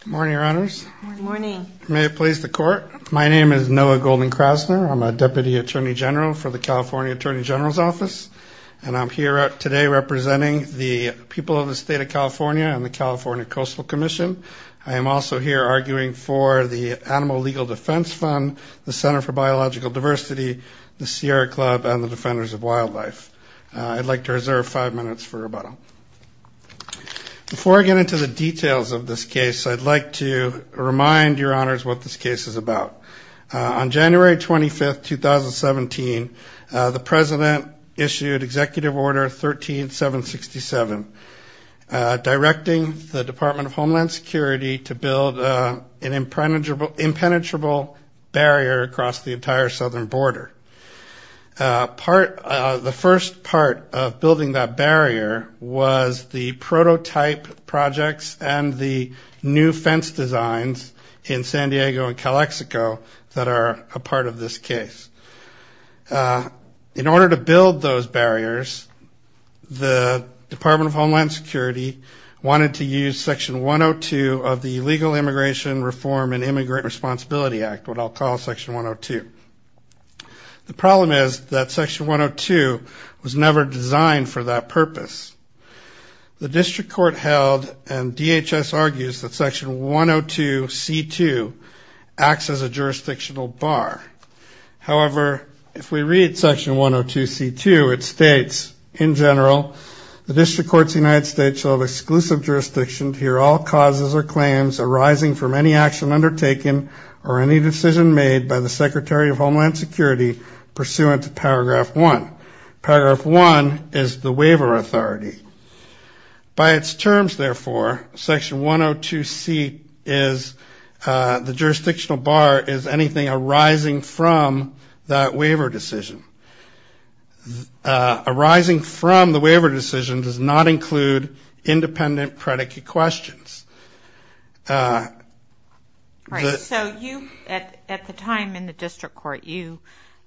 Good morning, Your Honors. Good morning. May it please the Court. My name is Noah Golden-Krasner. I'm a Deputy Attorney General for the California Attorney General's Office, and I'm here today representing the people of the state of California and the California Coastal Commission. I am also here arguing for the Animal Legal Defense Fund, the Center for Biological Diversity, the Sierra Club, and the Defenders of Wildlife. I'd like to reserve five minutes for rebuttal. Before I get into the details of this case, I'd like to remind Your Honors what this case is about. On January 25, 2017, the President issued Executive Order 13-767, directing the Department of Homeland Security to build an impenetrable barrier across the southern border. The first part of building that barrier was the prototype projects and the new fence designs in San Diego and Calexico that are a part of this case. In order to build those barriers, the Department of Homeland Security wanted to use Section 102 of the Legal Immigration Reform and Immigrant Responsibility Act, what I'll call Section 102. The problem is that Section 102 was never designed for that purpose. The District Court held and DHS argues that Section 102-C2 acts as a jurisdictional bar. However, if we read Section 102-C2, it states, in general, the District Courts of the United States shall have exclusive jurisdiction to hear all causes or claims arising from any action undertaken or any decision made by the Secretary of Homeland Security pursuant to Paragraph 1. Paragraph 1 is the waiver authority. By its terms, therefore, Section 102-C is the jurisdictional bar is anything arising from that waiver decision. Arising from the waiver decision does not include independent predicate questions. Right. So you, at the time in the District Court, you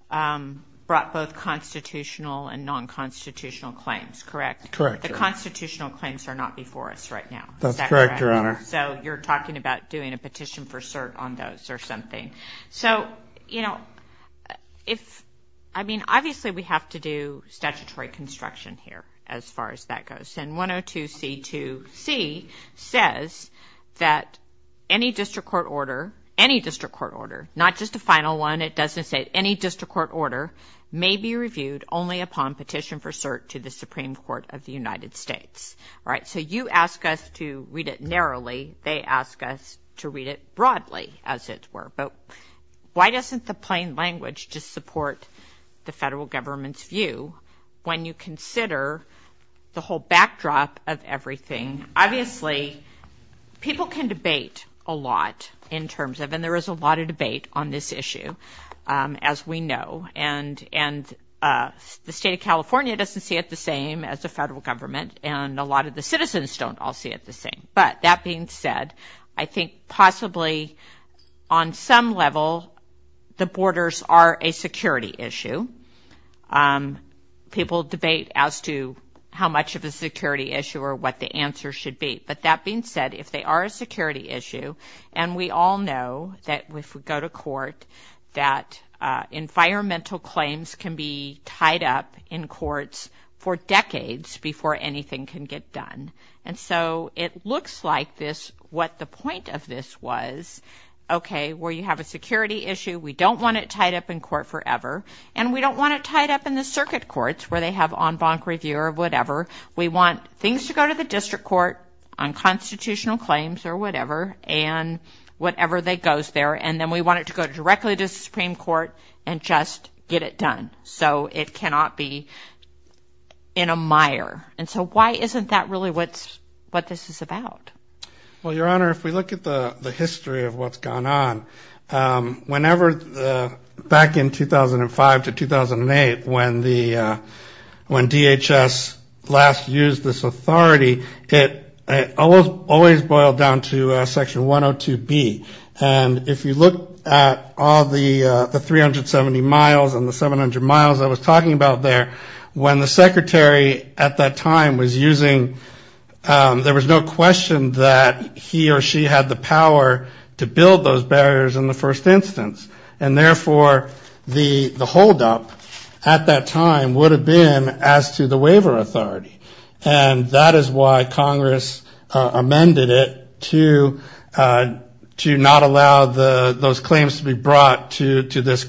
brought both constitutional and non-constitutional claims, correct? Correct. The constitutional claims are not before us right now. That's correct, Your Honor. So you're talking about doing a petition for cert on those or something. So, you know, if, I mean, obviously we have to do statutory construction here as far as that goes. And 102-C2-C says that any District Court order, any District Court order, not just a final one, it doesn't say any District Court order, may be reviewed only upon petition for cert to the Supreme Court of the United States. All right. So you ask us to read it narrowly. They ask us to read it broadly, as it were. But why doesn't the plain language just support the federal government's view when you consider the whole backdrop of everything? Obviously, people can debate a lot in terms of, and there is a lot of debate on this issue, as we know. And the state of California doesn't see it the same as the federal government. And a lot of citizens don't all see it the same. But that being said, I think possibly on some level, the borders are a security issue. People debate as to how much of a security issue or what the answer should be. But that being said, if they are a security issue, and we all know that if we go to And so it looks like this, what the point of this was, okay, where you have a security issue, we don't want it tied up in court forever. And we don't want it tied up in the circuit courts, where they have en banc review or whatever. We want things to go to the District Court on constitutional claims or whatever, and whatever that goes there. And then we want it to go directly to the Supreme Court and just get it done. So it cannot be in a mire. And so why isn't that what this is about? Well, Your Honor, if we look at the history of what's gone on, whenever back in 2005 to 2008, when DHS last used this authority, it always boiled down to Section 102B. And if you look at all the 370 miles and the 700 miles I was talking about there, when the Secretary at that time was using, there was no question that he or she had the power to build those barriers in the first instance. And therefore, the holdup at that time would have been as to the waiver authority. And that is why Congress amended it to not allow those claims to be brought to this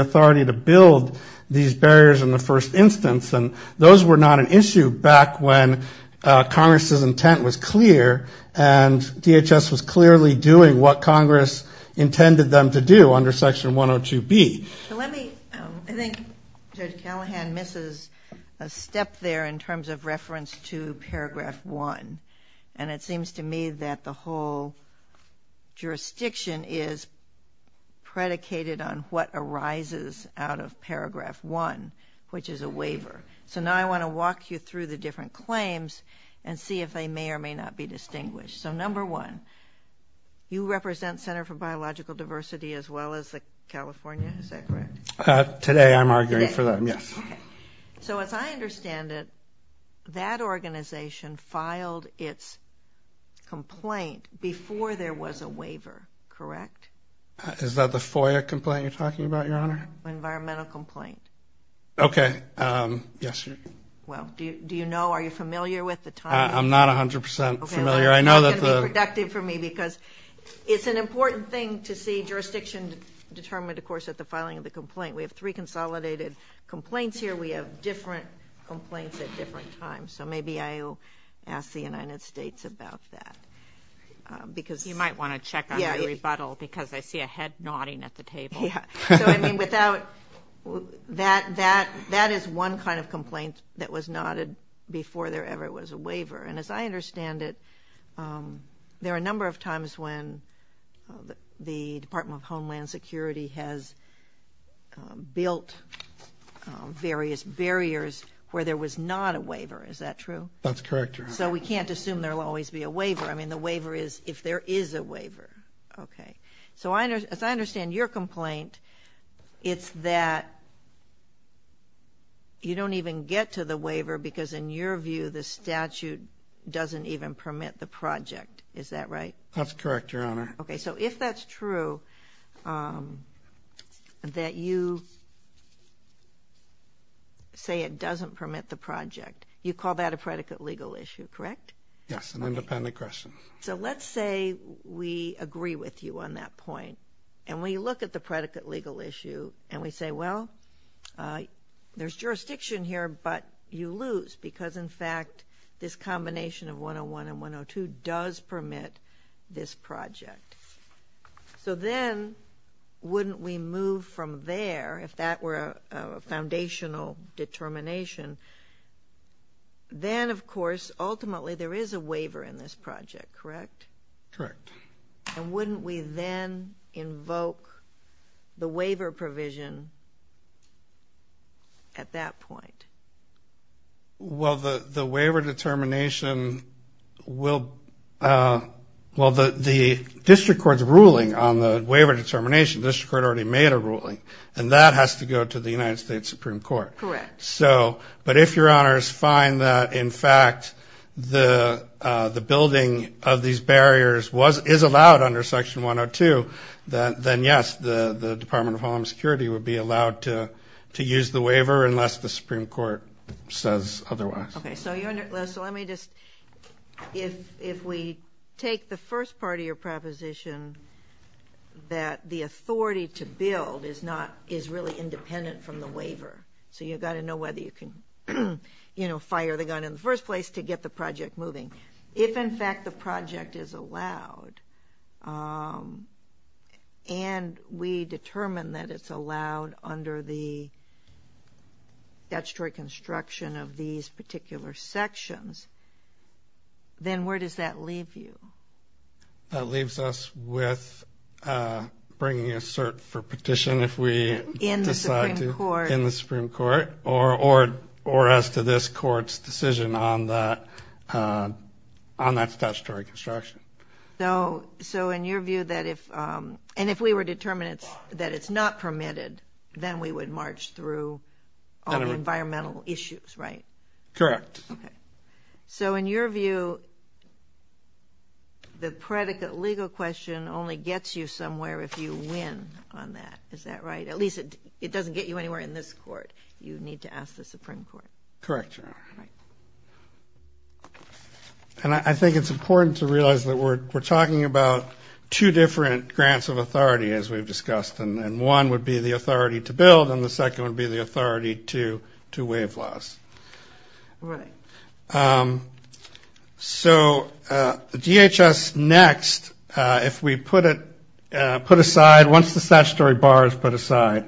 authority to build these barriers in the first instance. And those were not an issue back when Congress's intent was clear and DHS was clearly doing what Congress intended them to do under Section 102B. So let me, I think Judge Callahan misses a step there in terms of reference to Paragraph 1. And it seems to me that the whole jurisdiction is predicated on what arises out of Paragraph 1, which is a waiver. So now I want to walk you through the different claims and see if they may or may not be distinguished. So number one, you represent Center for Biological Diversity, as well as the California, is that correct? Today, I'm arguing for them, yes. So as I understand it, that organization filed its complaint before there was a waiver, correct? Is that the FOIA complaint you're talking about, Your Honor? Environmental complaint. Okay, yes. Well, do you know, are you familiar with the time? I'm not 100% familiar. I know that the... It's going to be productive for me because it's an important thing to see jurisdiction determined, of course, at the filing of the complaint. We have three consolidated complaints here. We have different complaints at different times. So maybe I'll ask the United States about that because... You might want to check on the rebuttal because I see a head nodding at the table. Yeah. So I mean, without... That is one kind of complaint that was nodded before there ever was a waiver. And as I understand it, there are a number of times when the Department of Homeland Security has built various barriers where there was not a waiver. Is that true? That's correct, Your Honor. So we can't assume there will always be a waiver. I mean, the waiver is if there is a waiver. Okay. So as I understand your complaint, it's that you don't even get to the waiver because, in your view, the statute doesn't even permit the project. Is that right? That's correct, Your Honor. Okay. So if that's true, that you say it doesn't permit the project, you call that a predicate legal issue, correct? Yes, an independent question. So let's say we agree with you on that point. And when you look at the predicate legal issue and we say, well, there's jurisdiction here, but you lose because, in fact, this combination of 101 and 102 does permit this project. So then wouldn't we move from there, if that were a foundational determination, then, of course, ultimately there is a waiver in this project, correct? Correct. And wouldn't we then invoke the waiver provision at that point? Well, the waiver determination will, well, the district court's ruling on the waiver determination, the district court already made a ruling, and that has to go to the United States Supreme Court. Correct. So, but if, Your Honor, it's fine that, in fact, the building of these barriers is allowed under section 102, then, yes, the Department of Homeland Security would be allowed to use the waiver unless the Supreme Court says otherwise. Okay. So, Your Honor, so let me just, if we take the first part of your proposition that the authority to build is not, is really independent from the waiver, so you've got to know whether you can, you know, fire the gun in the first place to get the project moving. If, in fact, the project is allowed and we determine that it's allowed under the statutory construction of these particular sections, then where does that leave you? That leaves us with bringing a cert for petition if we decide to. In the Supreme Court. In the Supreme Court, or as to this court's decision on that, on that statutory construction. So, in your view, that if, and if we were determined that it's not permitted, then we would march through. All the environmental issues, right? Correct. Okay. So, in your view, the predicate legal question only gets you somewhere if you win on that, is that right? At least it doesn't get you anywhere in this court. You need to ask the Supreme Court. Correct, Your Honor. Right. And I think it's important to realize that we're talking about two different grants of authority, as we've discussed, and one would be the authority to build, and the second would be the authority to waive laws. Right. So, DHS next, if we put it, put aside, once the statutory bar is put aside,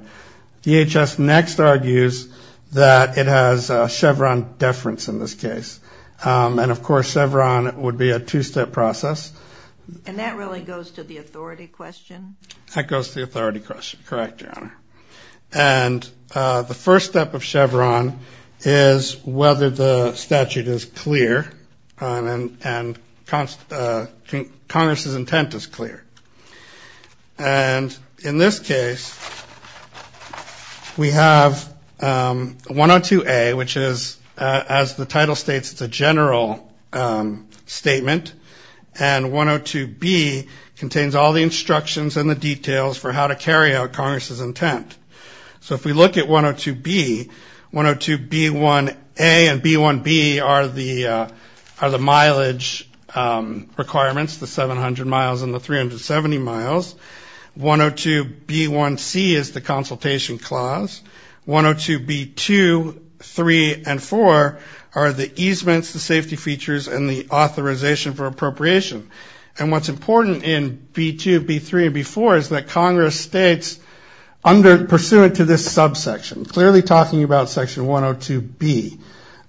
DHS next argues that it has Chevron deference in this case, and of course Chevron would be a two-step process. And that really goes to the authority question? That goes to the authority question. Correct, Your Honor. And the first step of Chevron is whether the statute is clear and Congress's intent is clear. And in this case, we have 102A, which is, as the title states, it's a general statement, and 102B contains all the instructions and the details for how to carry out Congress's intent. So if we look at 102B, 102B1A and 102B1B are the mileage requirements, the 700 miles and the 370 miles. 102B1C is the consultation clause. 102B2, 3, and 4 are the easements, the safety features, and the authorization for appropriation. And what's important in B2, B3, and B4 is that Congress states, pursuant to this subsection, clearly talking about section 102B,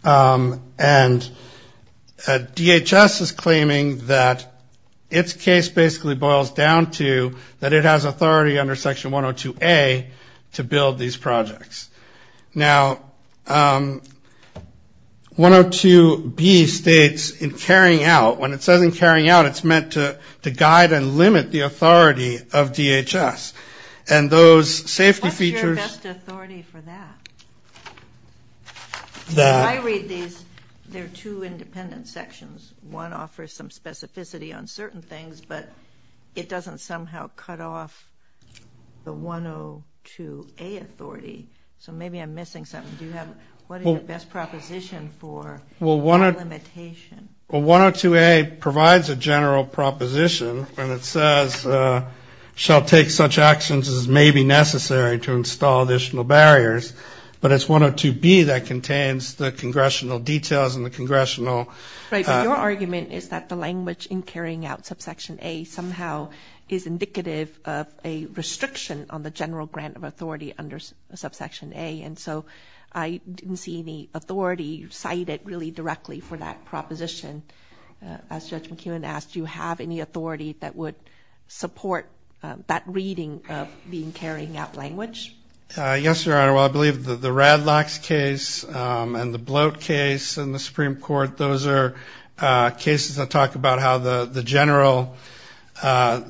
and DHS is claiming that its case basically boils down to that it has authority under section 102A to build these carrying out. When it says in carrying out, it's meant to guide and limit the authority of DHS. And those safety features... What's your best authority for that? I read these, there are two independent sections. One offers some specificity on certain things, but it doesn't somehow cut off the 102A authority. So maybe I'm missing something. Do you have, what is the best proposition for that limitation? 102A provides a general proposition, and it says, shall take such actions as may be necessary to install additional barriers. But it's 102B that contains the congressional details and the congressional... Right, but your argument is that the language in carrying out subsection A somehow is indicative of a restriction on the general grant of authority under subsection A. And so I didn't see any for that proposition. As Judge McKeown asked, do you have any authority that would support that reading of being carrying out language? Yes, Your Honor. Well, I believe that the Radlocks case and the Bloat case in the Supreme Court, those are cases that talk about how the general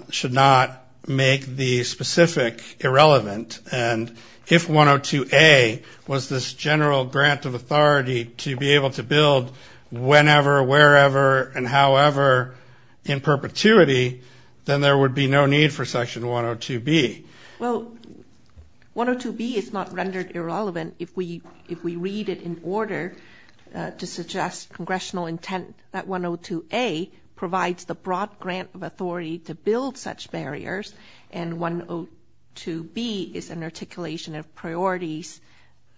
should not make the specific irrelevant. And if 102A was this general grant of authority to be able to build whenever, wherever, and however in perpetuity, then there would be no need for section 102B. Well, 102B is not rendered irrelevant if we read it in order to suggest congressional intent that 102B is an articulation of priorities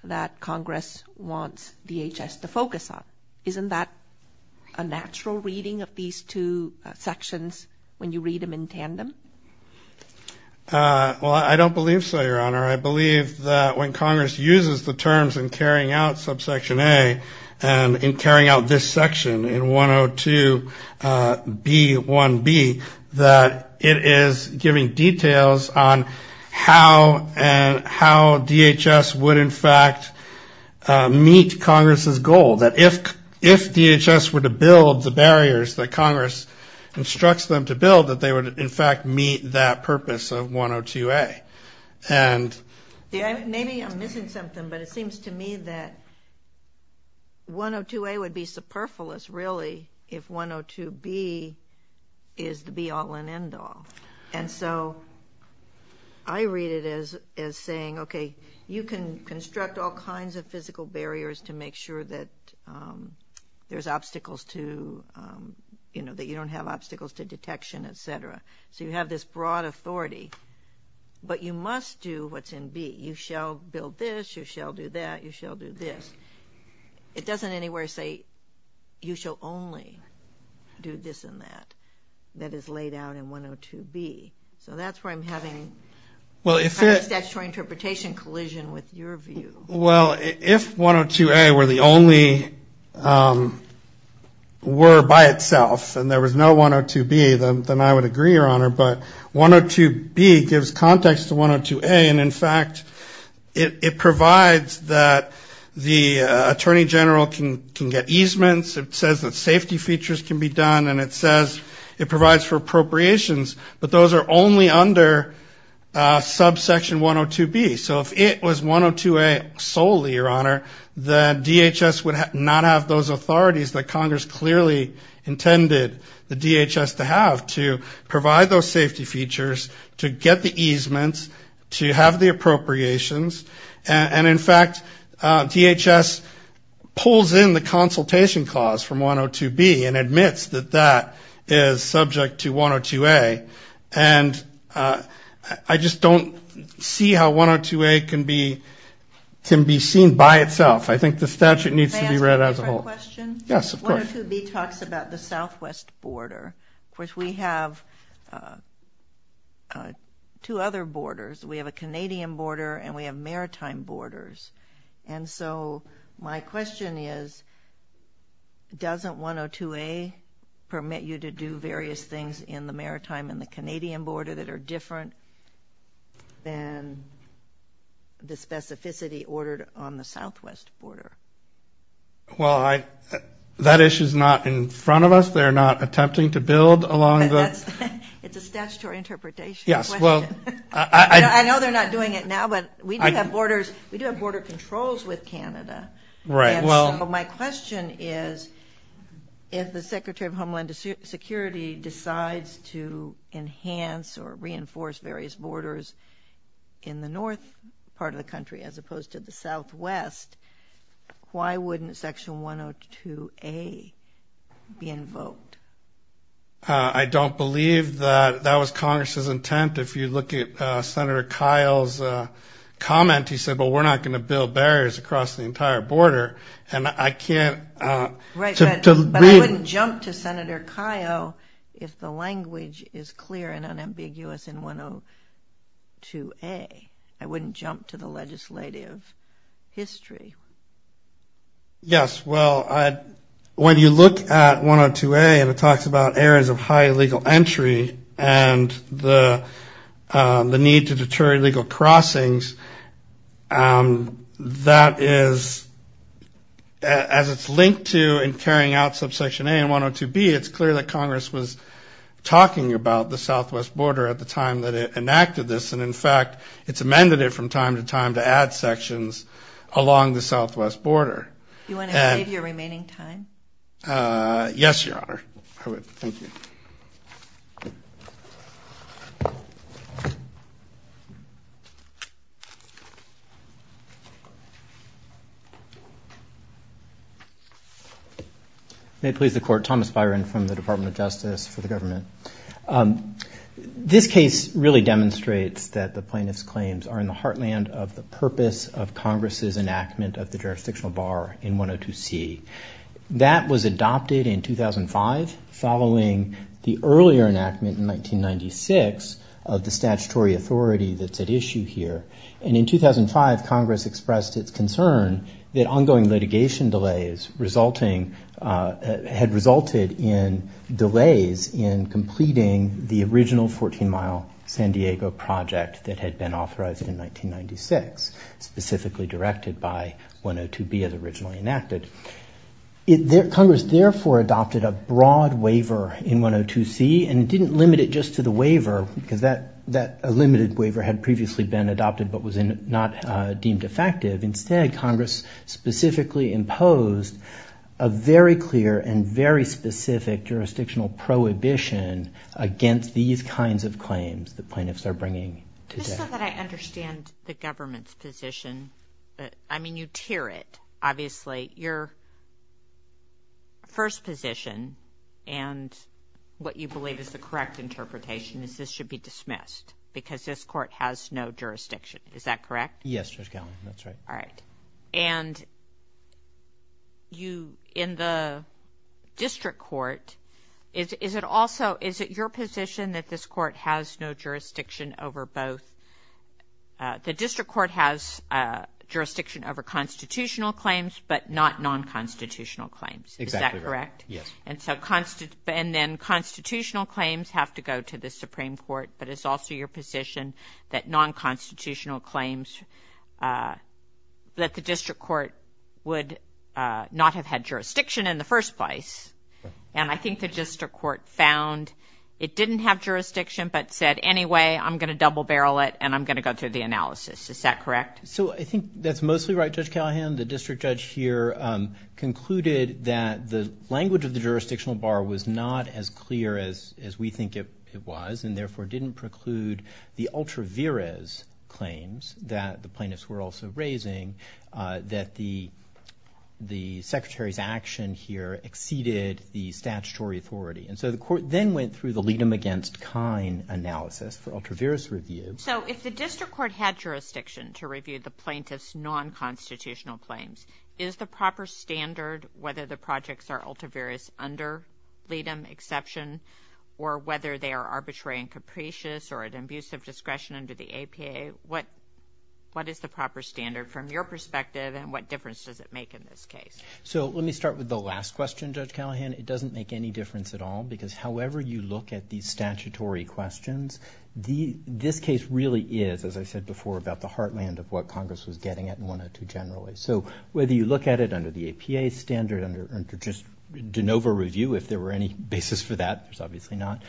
that Congress wants DHS to focus on. Isn't that a natural reading of these two sections when you read them in tandem? Well, I don't believe so, Your Honor. I believe that when Congress uses the terms in carrying out subsection A and in carrying out this section in 102B1B, that it is giving details on how DHS would in fact meet Congress's goal. That if DHS were to build the barriers that Congress instructs them to build, that they would in fact meet that purpose of 102A. And maybe I'm missing something, but it seems to me that 102A would be superfluous really if 102B is the be-all and end-all. And so I read it as saying, okay, you can construct all kinds of physical barriers to make sure that there's obstacles to, you know, that you don't have you must do what's in B. You shall build this, you shall do that, you shall do this. It doesn't anywhere say you shall only do this and that. That is laid out in 102B. So that's where I'm having a statutory interpretation collision with your view. Well, if 102A were the only were by itself and there was no 102B, then I would agree, Your Honor. But 102B gives context to 102A. And in fact, it provides that the attorney general can get easements. It says that safety features can be done. And it says it provides for appropriations. But those are only under subsection 102B. So if it was 102A solely, Your Honor, the DHS would not have those authorities that Congress clearly intended the DHS to have to provide those safety features to get the easements, to have the appropriations. And in fact, DHS pulls in the consultation clause from 102B and admits that that is subject to 102A. And I just don't see how 102A can be seen by itself. I think the statute needs to be read as a whole. Yes, of course. 102B talks about the southwest border. Of course, we have two other borders. We have a Canadian border and we have maritime borders. And so my question is, doesn't 102A permit you to do various things in the maritime and the Canadian border that are different than the specificity ordered on the southwest border? Well, that issue is not in front of us. They're not attempting to build along the... It's a statutory interpretation. Yes, well... I know they're not doing it now, but we do have borders. We do have border controls with Canada. Right, well... And so my question is, if the Secretary of Homeland Security decides to enhance or reinforce various borders in the north part of the country, as opposed to the southwest, why wouldn't section 102A be invoked? I don't believe that that was Congress's intent. If you look at Senator Kyle's comment, he said, well, we're not going to build barriers across the entire border. And I can't... But I wouldn't jump to Senator Kyle if the language is clear and unambiguous in 102A. I wouldn't jump to the legislative history. Yes, well, when you look at 102A and it talks about areas of high legal entry and the need to deter illegal crossings, that is... As it's linked to and carrying out subsection A and 102B, it's clear that Congress was talking about the southwest border at the time that it enacted this. And in fact, it's amended it from time to time to add sections along the southwest border. You want to save your remaining time? Yes, Your Honor, I would. Thank you. May it please the Court. Thomas Byron from the Department of Justice for the government. This case really demonstrates that the plaintiff's claims are in the heartland of the purpose of Congress's enactment of the jurisdictional bar in 102C. That was adopted in 2005 following the earlier enactment in 1996 of the statutory authority that's at issue here. And in 2005, Congress expressed its concern that ongoing litigation delays had resulted in delays in completing the original 14 mile San Diego project that had been Congress therefore adopted a broad waiver in 102C and didn't limit it just to the waiver because that limited waiver had previously been adopted but was not deemed effective. Instead, Congress specifically imposed a very clear and very specific jurisdictional prohibition against these kinds of claims the plaintiffs are bringing. Just so that I understand the government's position. I mean, you tear it, obviously. The first position and what you believe is the correct interpretation is this should be dismissed because this Court has no jurisdiction. Is that correct? Yes, Judge Gellin, that's right. All right. And you in the district court, is it also, is it your position that this court has no jurisdiction over both? The district court has jurisdiction over constitutional claims but not non-constitutional claims. Is that correct? Yes. And then constitutional claims have to go to the Supreme Court, but it's also your position that non-constitutional claims, that the district court would not have had jurisdiction in the first place. And I think the district court found it didn't have jurisdiction, but said, anyway, I'm going to double barrel it and I'm going to go through the analysis. Is that correct? So I think that's mostly right, Judge Callahan. The district judge here concluded that the language of the jurisdictional bar was not as clear as we think it was and therefore didn't preclude the ultra viris claims that the plaintiffs were also raising, that the secretary's action here exceeded the statutory authority. And so the court then went through the lead them against kind analysis for ultra viris review. So if the district court had jurisdiction to review the plaintiff's non-constitutional claims, is the proper standard, whether the projects are ultra viris under lead them exception or whether they are arbitrary and capricious or at abusive discretion under the APA, what is the proper standard from your perspective and what difference does it make in this case? So let me start with the last question, Judge Callahan. It doesn't make any difference at all because however you look at these statutory questions, this case really is, as I said before, about the heartland of what Congress was getting at in 102 generally. So whether you look at it under the APA standard, under just de novo review, if there were any basis for that, there's obviously not.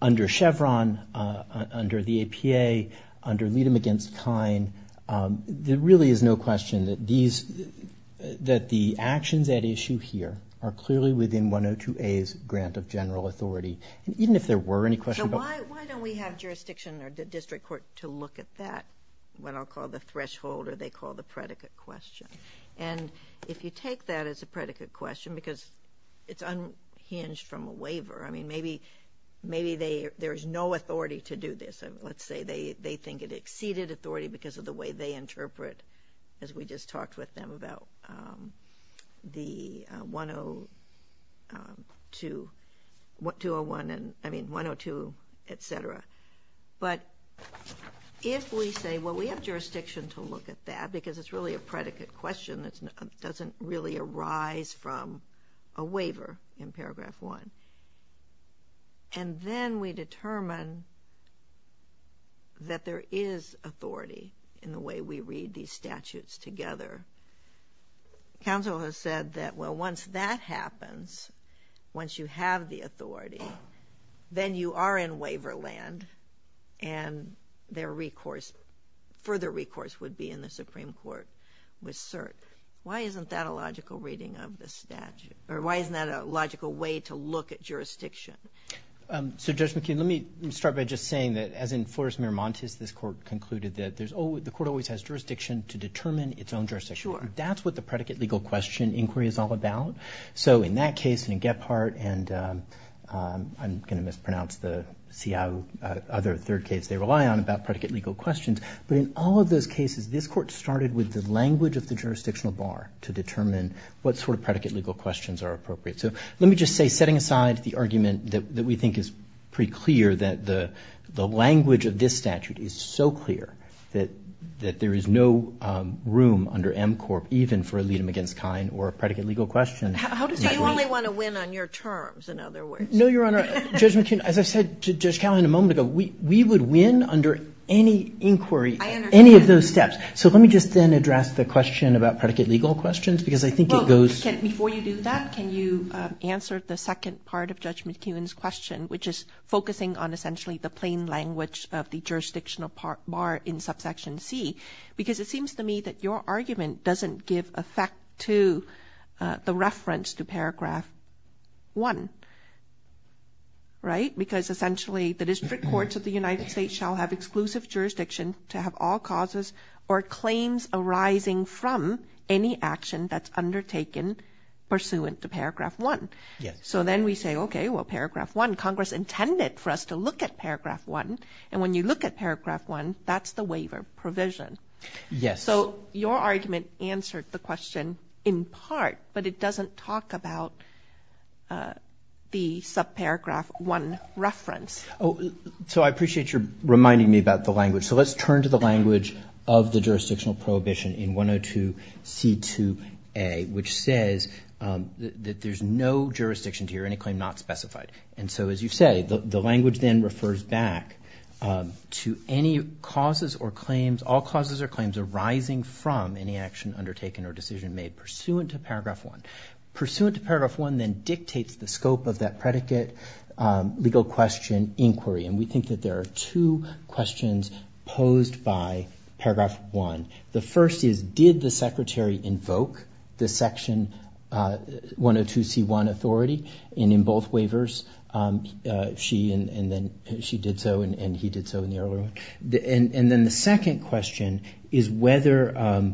Under Chevron, under the APA, under lead them against kind, there really is no question that the actions at issue here are clearly within 102A's grant of general authority. Even if there were any questions. So why don't we have jurisdiction or the district court to look at that, what I'll call the threshold or they call the predicate question. And if you take that as a predicate question, because it's unhinged from a waiver, I mean maybe there's no authority to do this. Let's say they think it exceeded authority because of the way they interpret, as we just talked with them about the 102, 201 and I mean 102, et cetera. But if we say, well, we have jurisdiction to look at that because it's really a predicate question that doesn't really arise from a waiver in paragraph one. And then we determine that there is authority in the way we read these statutes together. Counsel has said that, well, once that happens, once you have the authority, then you are in waiver land and their recourse, further recourse would be in the Supreme Court with cert. Why isn't that a logical reading of the statute? Or why isn't that a logical way to look at jurisdiction? So Judge McKeon, let me start by just saying that as in Flores-Miramontes, this court concluded that there's always, the court always has jurisdiction to determine its own jurisdiction. That's what the predicate legal question inquiry is all about. So in that case, in Gephardt and I'm going to mispronounce the other third case they rely on about predicate legal questions. But in all of those cases, this court started with the language of the jurisdictional bar to determine what sort of predicate legal questions are appropriate. So let me just say, setting aside the argument that we think is pretty clear that the language of this statute is so clear that there is no room under M Corp even for a lead-them-against-kind or a predicate legal question. You only want to win on your terms, in other words. No, Your Honor. Judge McKeon, as I said to Judge Callahan a moment ago, we would win under any inquiry, any of those steps. So let me just then address the question about predicate legal questions, because I think it goes... Before you do that, can you answer the second part of Judge McKeon's question, which is focusing on essentially the plain language of the jurisdictional part bar in subsection C? Because it seems to me that your argument doesn't give effect to the reference to paragraph one, right? Because essentially the district courts of the United States shall have exclusive jurisdiction to have all causes or claims arising from any action that's undertaken pursuant to paragraph one. Yes. So then we say, okay, well, paragraph one, Congress intended for us to look at paragraph one. And when you look at paragraph one, that's the waiver provision. Yes. So your argument answered the question in part, but it doesn't talk about the subparagraph one reference. So I appreciate you reminding me about the language. So let's turn to the language of the jurisdictional prohibition in 102C2A, which says that there's no jurisdiction to hear any claim not specified. And so, as you say, the language then refers back to any causes or claims, all causes or claims arising from any action undertaken or decision made pursuant to paragraph one. Pursuant to paragraph one then dictates the scope of that predicate legal question inquiry. And we think that there are two questions posed by paragraph one. The first is, did the secretary invoke the section 102C1 authority? And in both waivers, she and then she did so, and he did so in the earlier one. And then the second question is whether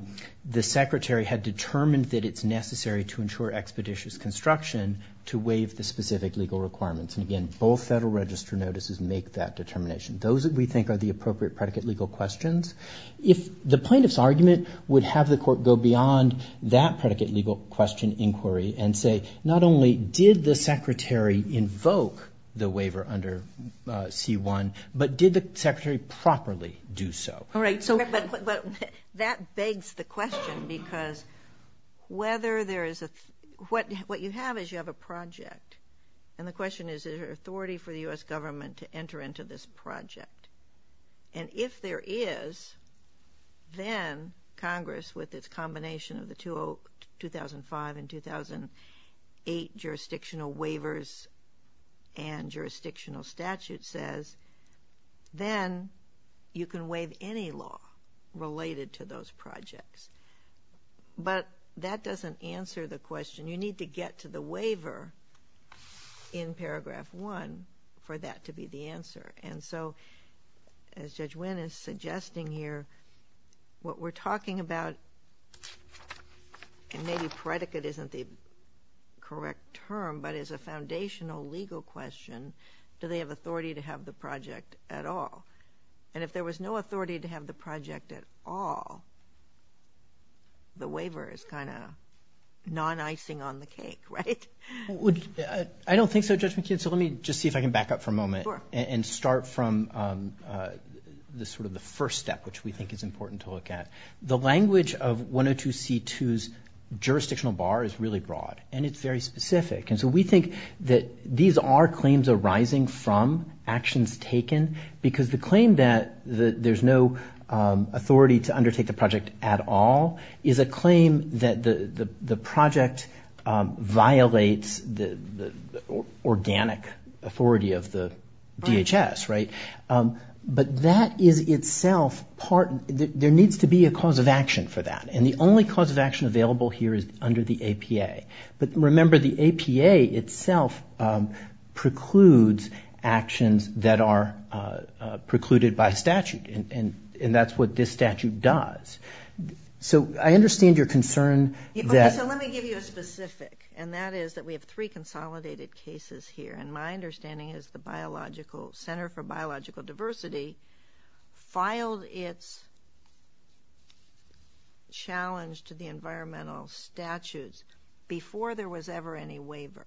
the secretary had determined that it's necessary to ensure expeditious construction to waive the specific legal requirements. And again, both Federal Register notices make that determination. Those that we think are the appropriate predicate legal questions. If the plaintiff's argument would have the court go beyond that predicate legal question inquiry and say, not only did the secretary invoke the waiver under C1, but did the secretary properly do so? All right. So that begs the question, because what you have is you have a project. And the question is, is there authority for the U.S. government to enter into this project? And if there is, then Congress, with its combination of the 2005 and 2008 jurisdictional waivers and jurisdictional statute, says, then you can waive any law related to those projects. But that doesn't answer the question. You need to get to the waiver in paragraph one for that to be the answer. And so, as Judge Winn is suggesting here, what we're talking about, and maybe predicate isn't the correct term, but as a foundational legal question, do they have authority to have the project at all? And if there was no authority to have the project at all, the waiver is kind of non-icing on the cake, right? I don't think so, Judge McKeon. So let me just see if I can back up for a moment and start from the sort of the first step, which we think is important to look at. The language of 102c2's jurisdictional bar is really broad, and it's very specific. And so we think that these are claims arising from actions taken, because the claim that there's no authority to undertake the project at all is a claim that the project violates the cause of action for that. And the only cause of action available here is under the APA. But remember, the APA itself precludes actions that are precluded by statute, and that's what this statute does. So I understand your concern that- So let me give you a specific, and that is that we have three consolidated cases here. And my understanding is the Center for Biological Diversity filed its challenge to the environmental statutes before there was ever any waiver.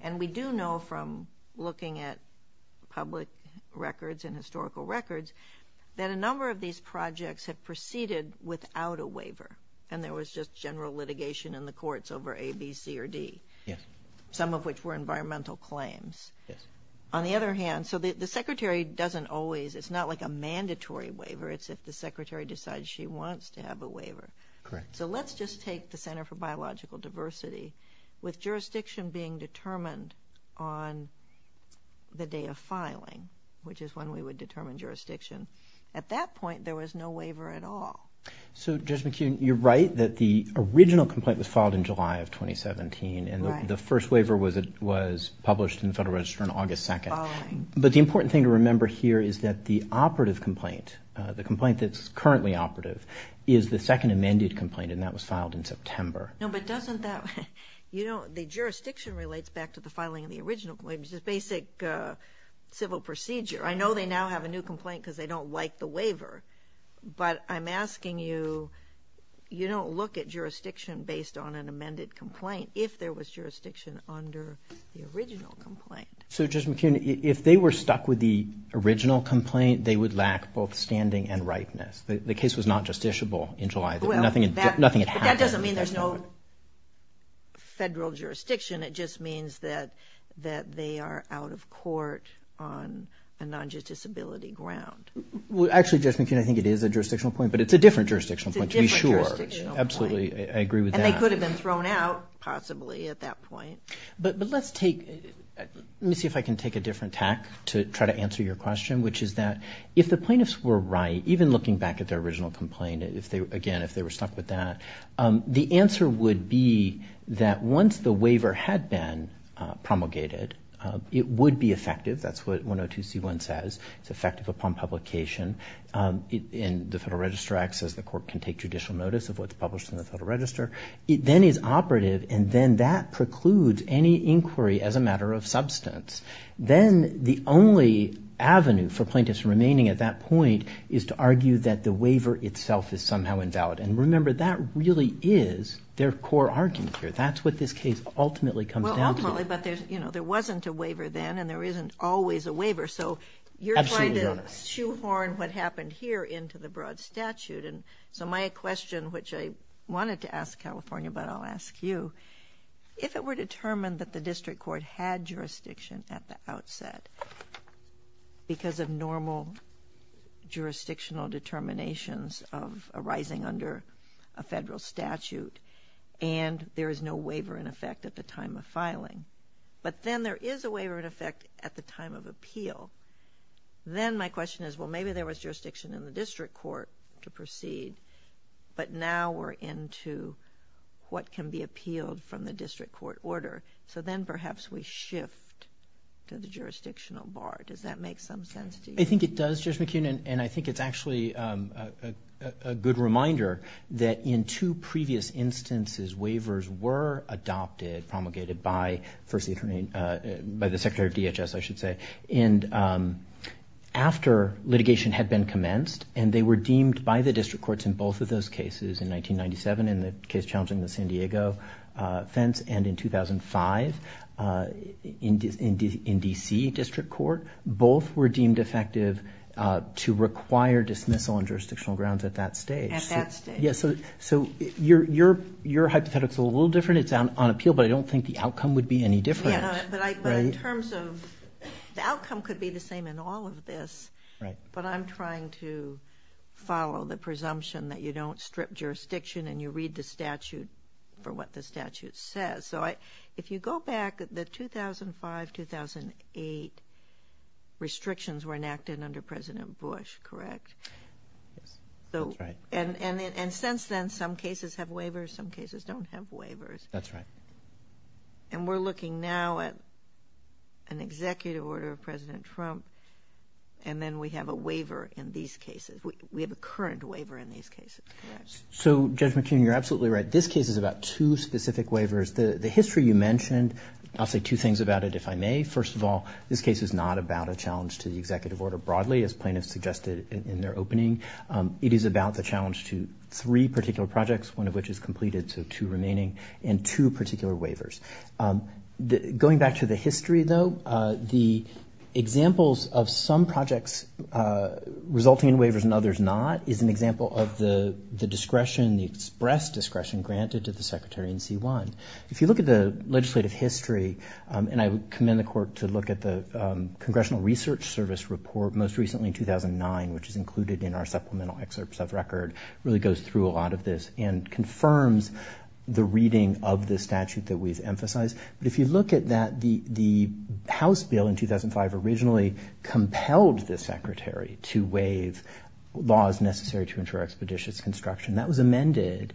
And we do know from looking at public records and historical records that a number of these projects have proceeded without a waiver, and there was just general litigation in the courts over A, B, C, or D, some of which were environmental claims. On the other hand, so the secretary doesn't always, it's not like a mandatory waiver, it's if the secretary decides she wants to have a waiver. So let's just take the Center for Biological Diversity. With jurisdiction being determined on the day of filing, which is when we would determine jurisdiction, at that point there was no waiver at all. So Judge McKeon, you're right that the original complaint was filed in July of 2017, and the first waiver was published in the Federal Register on August 2nd. But the important thing to remember here is that the operative complaint, the complaint that's currently operative, is the second amended complaint, and that was filed in September. No, but doesn't that, you know, the jurisdiction relates back to the filing of the original claims, the basic civil procedure. I know they now have a new complaint because they don't like the waiver, but I'm asking you, you don't look at jurisdiction based on an amended complaint if there was jurisdiction under the original complaint. So Judge McKeon, if they were stuck with the original complaint, they would lack both standing and ripeness. The case was not justiciable in July. Well, that doesn't mean there's no federal jurisdiction. It just means that they are out of court on a non-judiciability ground. Well, actually, Judge McKeon, I think it is a jurisdictional point, but it's a different jurisdictional point to be sure. It's a different jurisdictional point. Absolutely. I agree with that. And they could have been thrown out, possibly, at that point. But let's take, let me see if I can take a different tack to try to answer your question, which is that if the plaintiffs were right, even looking back at their original complaint, if they, again, if they were stuck with that, the answer would be that once the waiver had been promulgated, it would be effective. That's what 102c1 says. It's effective upon publication. And the Federal Register acts as the court can take judicial notice of what's published in the Federal Register. It then is operative, and then that precludes any inquiry as a matter of substance. Then the only avenue for plaintiffs remaining at that point is to argue that the waiver itself is somehow invalid. And remember, that really is their core argument here. That's what this case ultimately comes down to. Well, ultimately, but there's, you know, there wasn't a waiver then, there isn't always a waiver. So you're trying to shoehorn what happened here into the broad statute. And so my question, which I wanted to ask California, but I'll ask you, if it were determined that the district court had jurisdiction at the outset, because of normal jurisdictional determinations of arising under a Federal statute, and there is no waiver in effect at the time of filing, but then there is a waiver in effect at the time of appeal, then my question is, well, maybe there was jurisdiction in the district court to proceed, but now we're into what can be appealed from the district court order. So then perhaps we shift to the jurisdictional bar. Does that make some sense to you? I think it does, Judge McKeon, and I think it's actually a good reminder that in two previous instances, waivers were adopted, promulgated by the Secretary of DHS, I should say, and after litigation had been commenced, and they were deemed by the district courts in both of those cases in 1997, in the case challenging the San Diego fence, and in 2005 in DC district court, both were deemed effective to require dismissal on jurisdictional grounds at that stage. At that stage. So your hypothetical is a little different. It's on appeal, but I don't think the outcome would be any different. But in terms of, the outcome could be the same in all of this, but I'm trying to follow the presumption that you don't strip jurisdiction and you read the statute for what the statute says. So if you go back, the 2005-2008 restrictions were enacted under President Bush, correct? Yes, that's right. And since then, some cases have waivers, some cases don't have waivers. That's right. And we're looking now at an executive order of President Trump, and then we have a waiver in these cases. We have a current waiver in these cases, correct? So Judge McKeon, you're absolutely right. This case is about two specific waivers. The history you mentioned, I'll say two things about it, if I may. First of all, this case is not about a challenge to the executive order broadly, as plaintiffs suggested in their opening. It is about the challenge to three particular projects, one of which is completed, so two remaining, and two particular waivers. Going back to the history though, the examples of some projects resulting in waivers and others not is an example of the discretion, the express discretion granted to the Secretary in C1. If you look at the legislative history, and I would commend the court to look at the 2009, which is included in our supplemental excerpts of record, really goes through a lot of this and confirms the reading of the statute that we've emphasized. But if you look at that, the House bill in 2005 originally compelled the Secretary to waive laws necessary to ensure expeditious construction. That was amended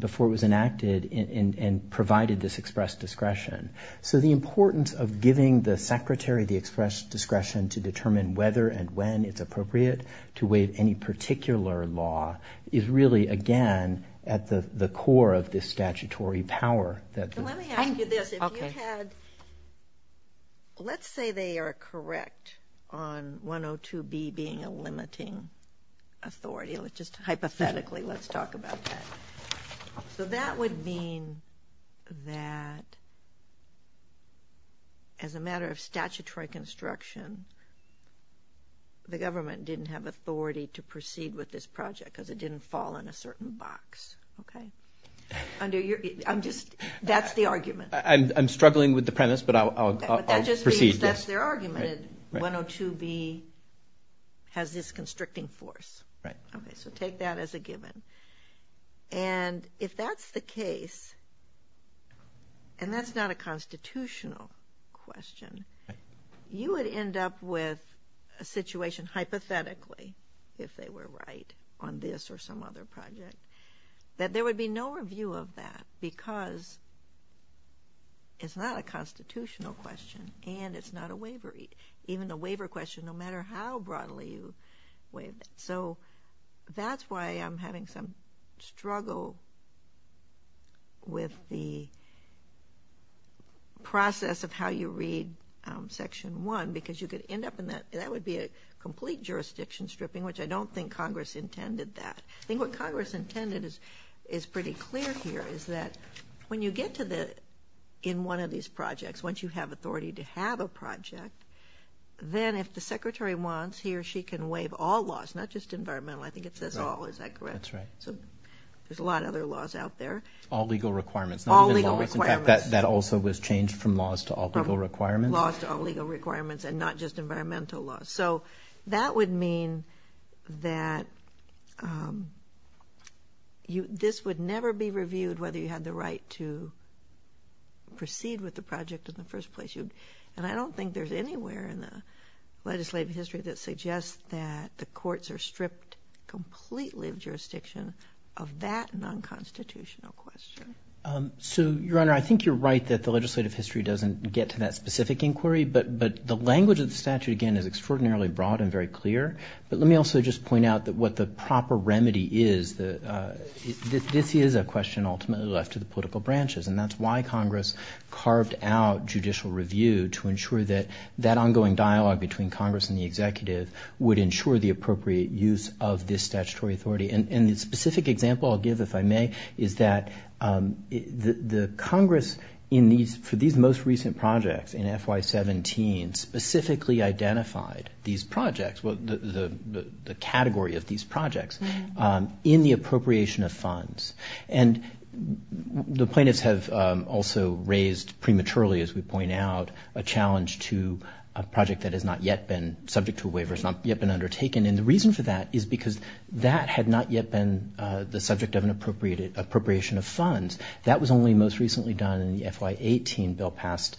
before it was enacted and provided this express discretion. So the importance of giving the Secretary the express discretion to determine whether and when it's appropriate to waive any particular law is really, again, at the core of this statutory power. Let me ask you this, if you had, let's say they are correct on 102B being a limiting authority, just hypothetically, let's talk about that. So that would mean that as a matter of statutory construction, the government didn't have authority to proceed with this project because it didn't fall in a certain box. Okay. Under your, I'm just, that's the argument. I'm struggling with the premise, but I'll proceed. That's their argument. 102B has this constricting force. Right. Okay. So take that as a given. And if that's the case, and that's not a constitutional question, you would end up with a situation, hypothetically, if they were right on this or some other project, that there would be no review of that because it's not a constitutional question and it's not a waiver, even a waiver question, no matter how broadly you waive it. So that's why I'm having some struggle with the process of how you read section one, because you could end up in that, that would be a complete jurisdiction stripping, which I don't think Congress intended that. I think what Congress intended is pretty clear here is that when you get to the, in one of these projects, once you have authority to have a project, then if the secretary wants, he or she can waive all laws, not just environmental, I think it says all, is that correct? That's right. So there's a lot of other laws out there. All legal requirements. All legal requirements. In fact, that also was changed from laws to all legal requirements. Laws to all legal requirements and not just environmental laws. So that would mean that you, this would never be reviewed whether you had the right to proceed with the project in the first place. And I don't think there's anywhere in the legislative history that suggests that the courts are stripped completely of jurisdiction of that non-constitutional question. So Your Honor, I think you're right that the legislative history doesn't get to that specific inquiry, but the language of the statute, again, is extraordinarily broad and very clear. But let me also just point out that what the proper remedy is, this is a question ultimately left to the political branches. And that's why Congress carved out judicial review to ensure that ongoing dialogue between Congress and the executive would ensure the appropriate use of this statutory authority. And the specific example I'll give, if I may, is that the Congress in these, for these most recent projects in FY17, specifically identified these projects, the category of these projects, in the appropriation of funds. And the plaintiffs have also raised prematurely, as we point out, a challenge to a project that has not yet been subject to a waiver, has not yet been undertaken. And the reason for that is because that had not yet been the subject of an appropriated, appropriation of funds. That was only most recently done in the FY18 bill passed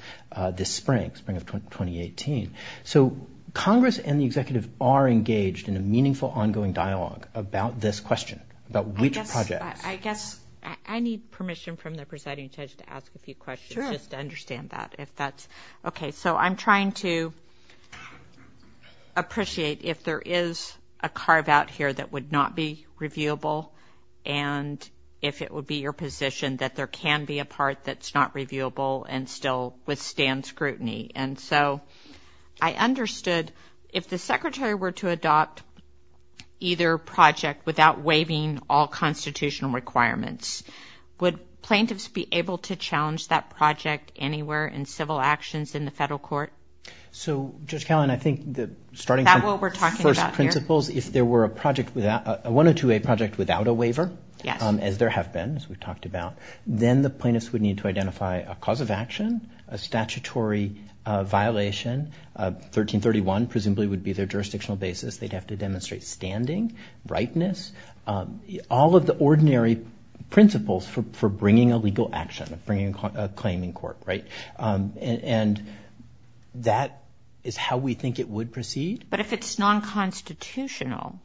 this spring, spring of 2018. So Congress and the executive are engaged in a meaningful ongoing dialogue about this question, about which project. I guess I need permission from the presiding judge to ask a few questions just to understand that if that's okay. So I'm trying to appreciate if there is a carve out here that would not be reviewable. And if it would be your position that there can be a part that's not reviewable and still withstand scrutiny. And so I understood if the secretary were to adopt either project without waiving all constitutional requirements, would plaintiffs be able to challenge that project anywhere in civil actions in the federal court? So, Judge Callan, I think that starting from first principles, if there were a project without, a 102A project without a waiver, as there have been, as we've talked about, then the plaintiffs would need to identify a cause of action, a statutory violation, 1331 presumably would be their jurisdictional basis. They'd have to demonstrate standing, rightness, all of the ordinary principles for bringing a legal action, bringing a claim in court, right? And that is how we think it would proceed. But if it's non-constitutional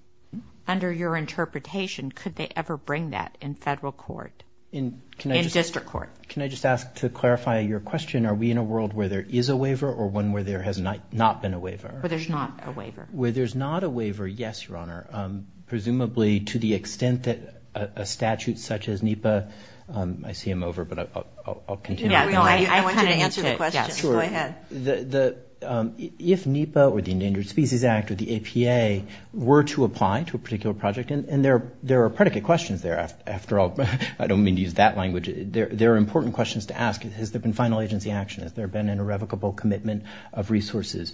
under your interpretation, could they ever bring that in federal court, in district court? Can I just ask to clarify your question? Are we in a world where there is a waiver or one where there has not been a waiver? Where there's not a waiver. Where there's not a waiver, yes, Your Honor. Presumably to the extent that a statute such as NEPA, I see I'm over, but I'll continue. No, I want you to answer the question. Sure. Go ahead. If NEPA or the Endangered Species Act or the APA were to apply to a particular project, and there are predicate questions there, after all, I don't mean to use that language. There are important questions to ask. Has there been final agency action? Has there been an irrevocable commitment of resources?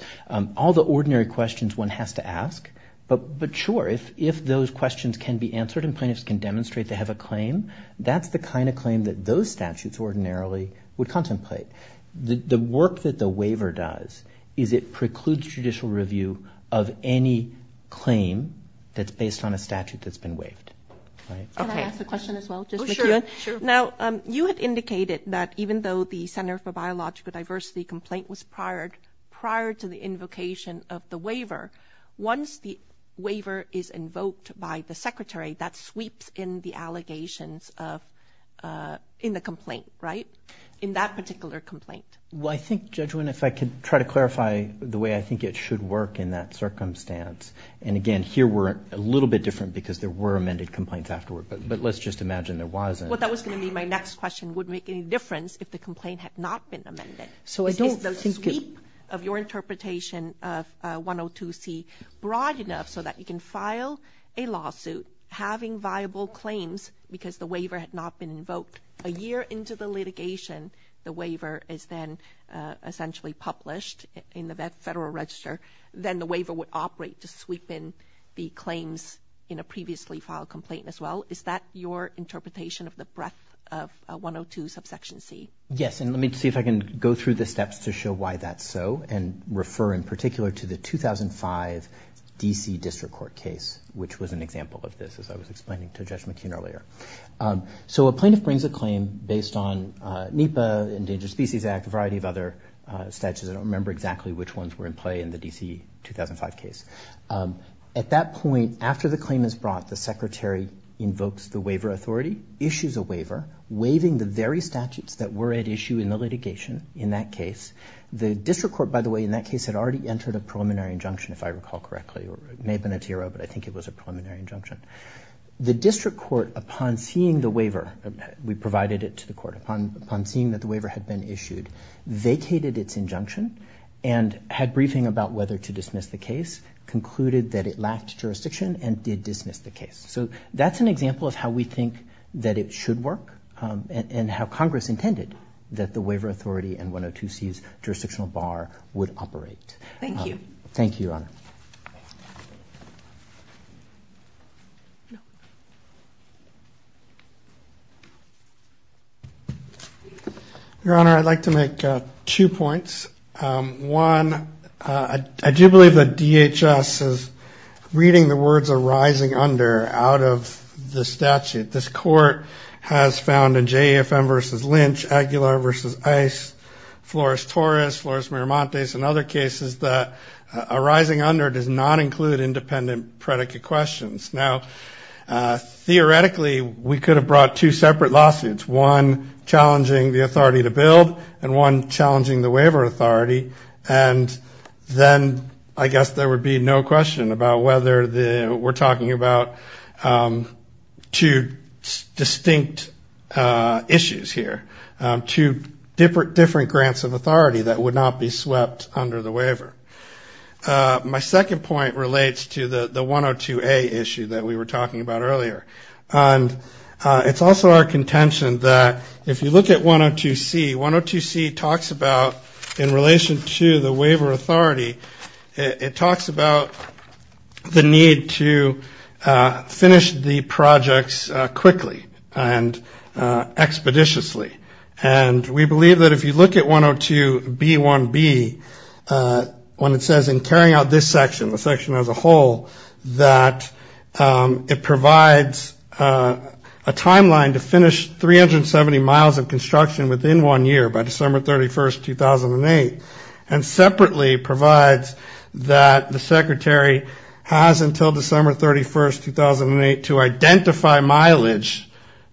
All the ordinary questions one has to ask. But sure, if those questions can be answered and plaintiffs can demonstrate they have a claim, that's the kind of claim that those statutes ordinarily would contemplate. The work that the waiver does is it precludes judicial review of any claim that's based on a statute that's been waived. Can I ask a question as well? Just to make sure. Now, you had indicated that even though the Center for Biological Diversity complaint was prior to the invocation of the waiver, once the waiver is invoked by the Secretary, that sweeps in the allegations in the complaint, right? In that particular complaint. Well, I think, Judge Winn, if I could try to clarify the way I think it should work in that circumstance. And again, here we're a little bit different because there were amended complaints afterward. But let's just imagine there wasn't. Well, that was going to be my next question. Would it make any difference if the complaint had not been amended? So I don't think it's... Is the sweep of your interpretation of 102C broad enough so that you can file a lawsuit having viable claims because the waiver had not been invoked? A year into the litigation, the waiver is then essentially published in the Federal Register. Then the waiver would operate to sweep in the claims in a previously filed complaint as well. Is that your interpretation of the breadth of 102 subsection C? Yes. And let me see if I can go through the steps to show why that's so and refer in particular to the 2005 D.C. District Court case, which was an example of this, as I was explaining to Judge McKeon earlier. So a plaintiff brings a claim based on NEPA, Endangered Species Act, a variety of other statutes. I don't remember exactly which ones were in play in the D.C. 2005 case. At that point, after the claim is brought, the Secretary invokes the waiver authority, issues a waiver, waiving the very statutes that were at issue in the litigation in that case. The District Court, by the way, in that case had already entered a preliminary injunction, if I recall correctly. It may have been a TRO, but I think it was a preliminary injunction. The District Court, upon seeing the waiver, we provided it to the Court, upon seeing that the waiver had been issued, vacated its injunction and had briefing about whether to dismiss the case, concluded that it lacked jurisdiction and did dismiss the case. So that's an example of how we think that it should work and how Congress intended that the waiver authority and 102C's jurisdictional bar would operate. Thank you. Thank you, Your Honor. Your Honor, I'd like to make two points. One, I do believe that DHS is reading the words arising under out of the statute. This Court has found in JEFM v. Lynch, Aguilar v. Ice, Flores-Torres, Flores-Miramontes and other cases that arising under does not include independent predicate questions. Now, theoretically, we could have brought two separate lawsuits, one challenging the authority to build and one challenging the waiver authority. And then, I guess there would be no question about whether we're talking about two distinct issues here, two different grants of authority that would not be swept under the waiver. My second point relates to the 102A issue that we were talking about earlier. And it's also our contention that if you look at 102C, 102C talks about in relation to the waiver authority, it talks about the need to finish the projects quickly and expeditiously. And we believe that if you look at 102B1B, when it says in carrying out this section, the section as a whole, that it provides a timeline to finish 370 miles of construction within one year, by December 31st, 2008, and separately provides that the Secretary has until December 31st, 2008, to identify mileage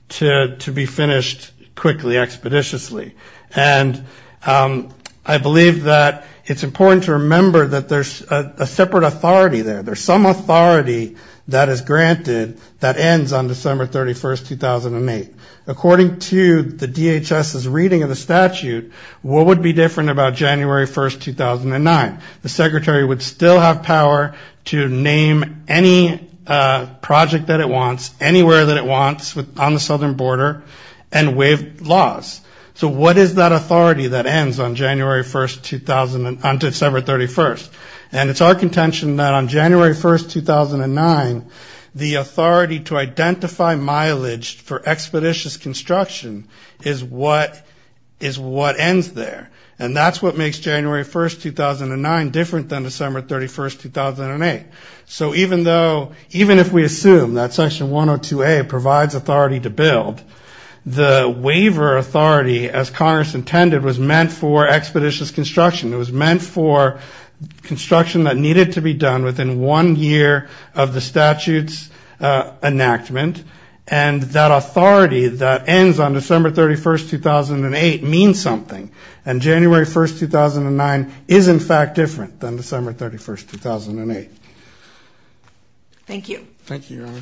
to be finished quickly, expeditiously. And I believe that it's important to remember that there's a separate authority there. There's some authority that is granted that ends on December 31st, 2008. According to the DHS's reading of the statute, what would be different about January 1st, 2009? The Secretary would still have power to name any project that it wants, anywhere that it wants, on the southern border, and waive laws. So what is that authority that ends on December 31st? And it's our contention that on January 1st, 2009, the authority to identify mileage for expeditious construction is what ends there. And that's what makes January 1st, 2009, different than December 31st, 2008. So even if we assume that Section 102A provides authority to build, the waiver authority, as Congress intended, was meant for expeditious construction. It was meant for construction that needed to be done within one year of the statute's enactment, and that authority that ends on December 31st, 2008, means something. And January 1st, 2009, is, in fact, different than December 31st, 2008. Thank you. Thank you, Your Honor.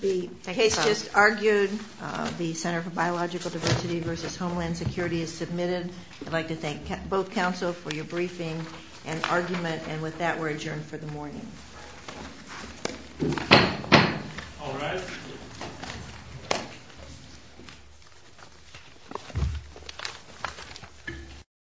The case just argued. The Center for Biological Diversity versus Homeland Security is submitted. I'd like to thank both counsel for your briefing and argument, and with that, we're adjourned for the morning. All rise.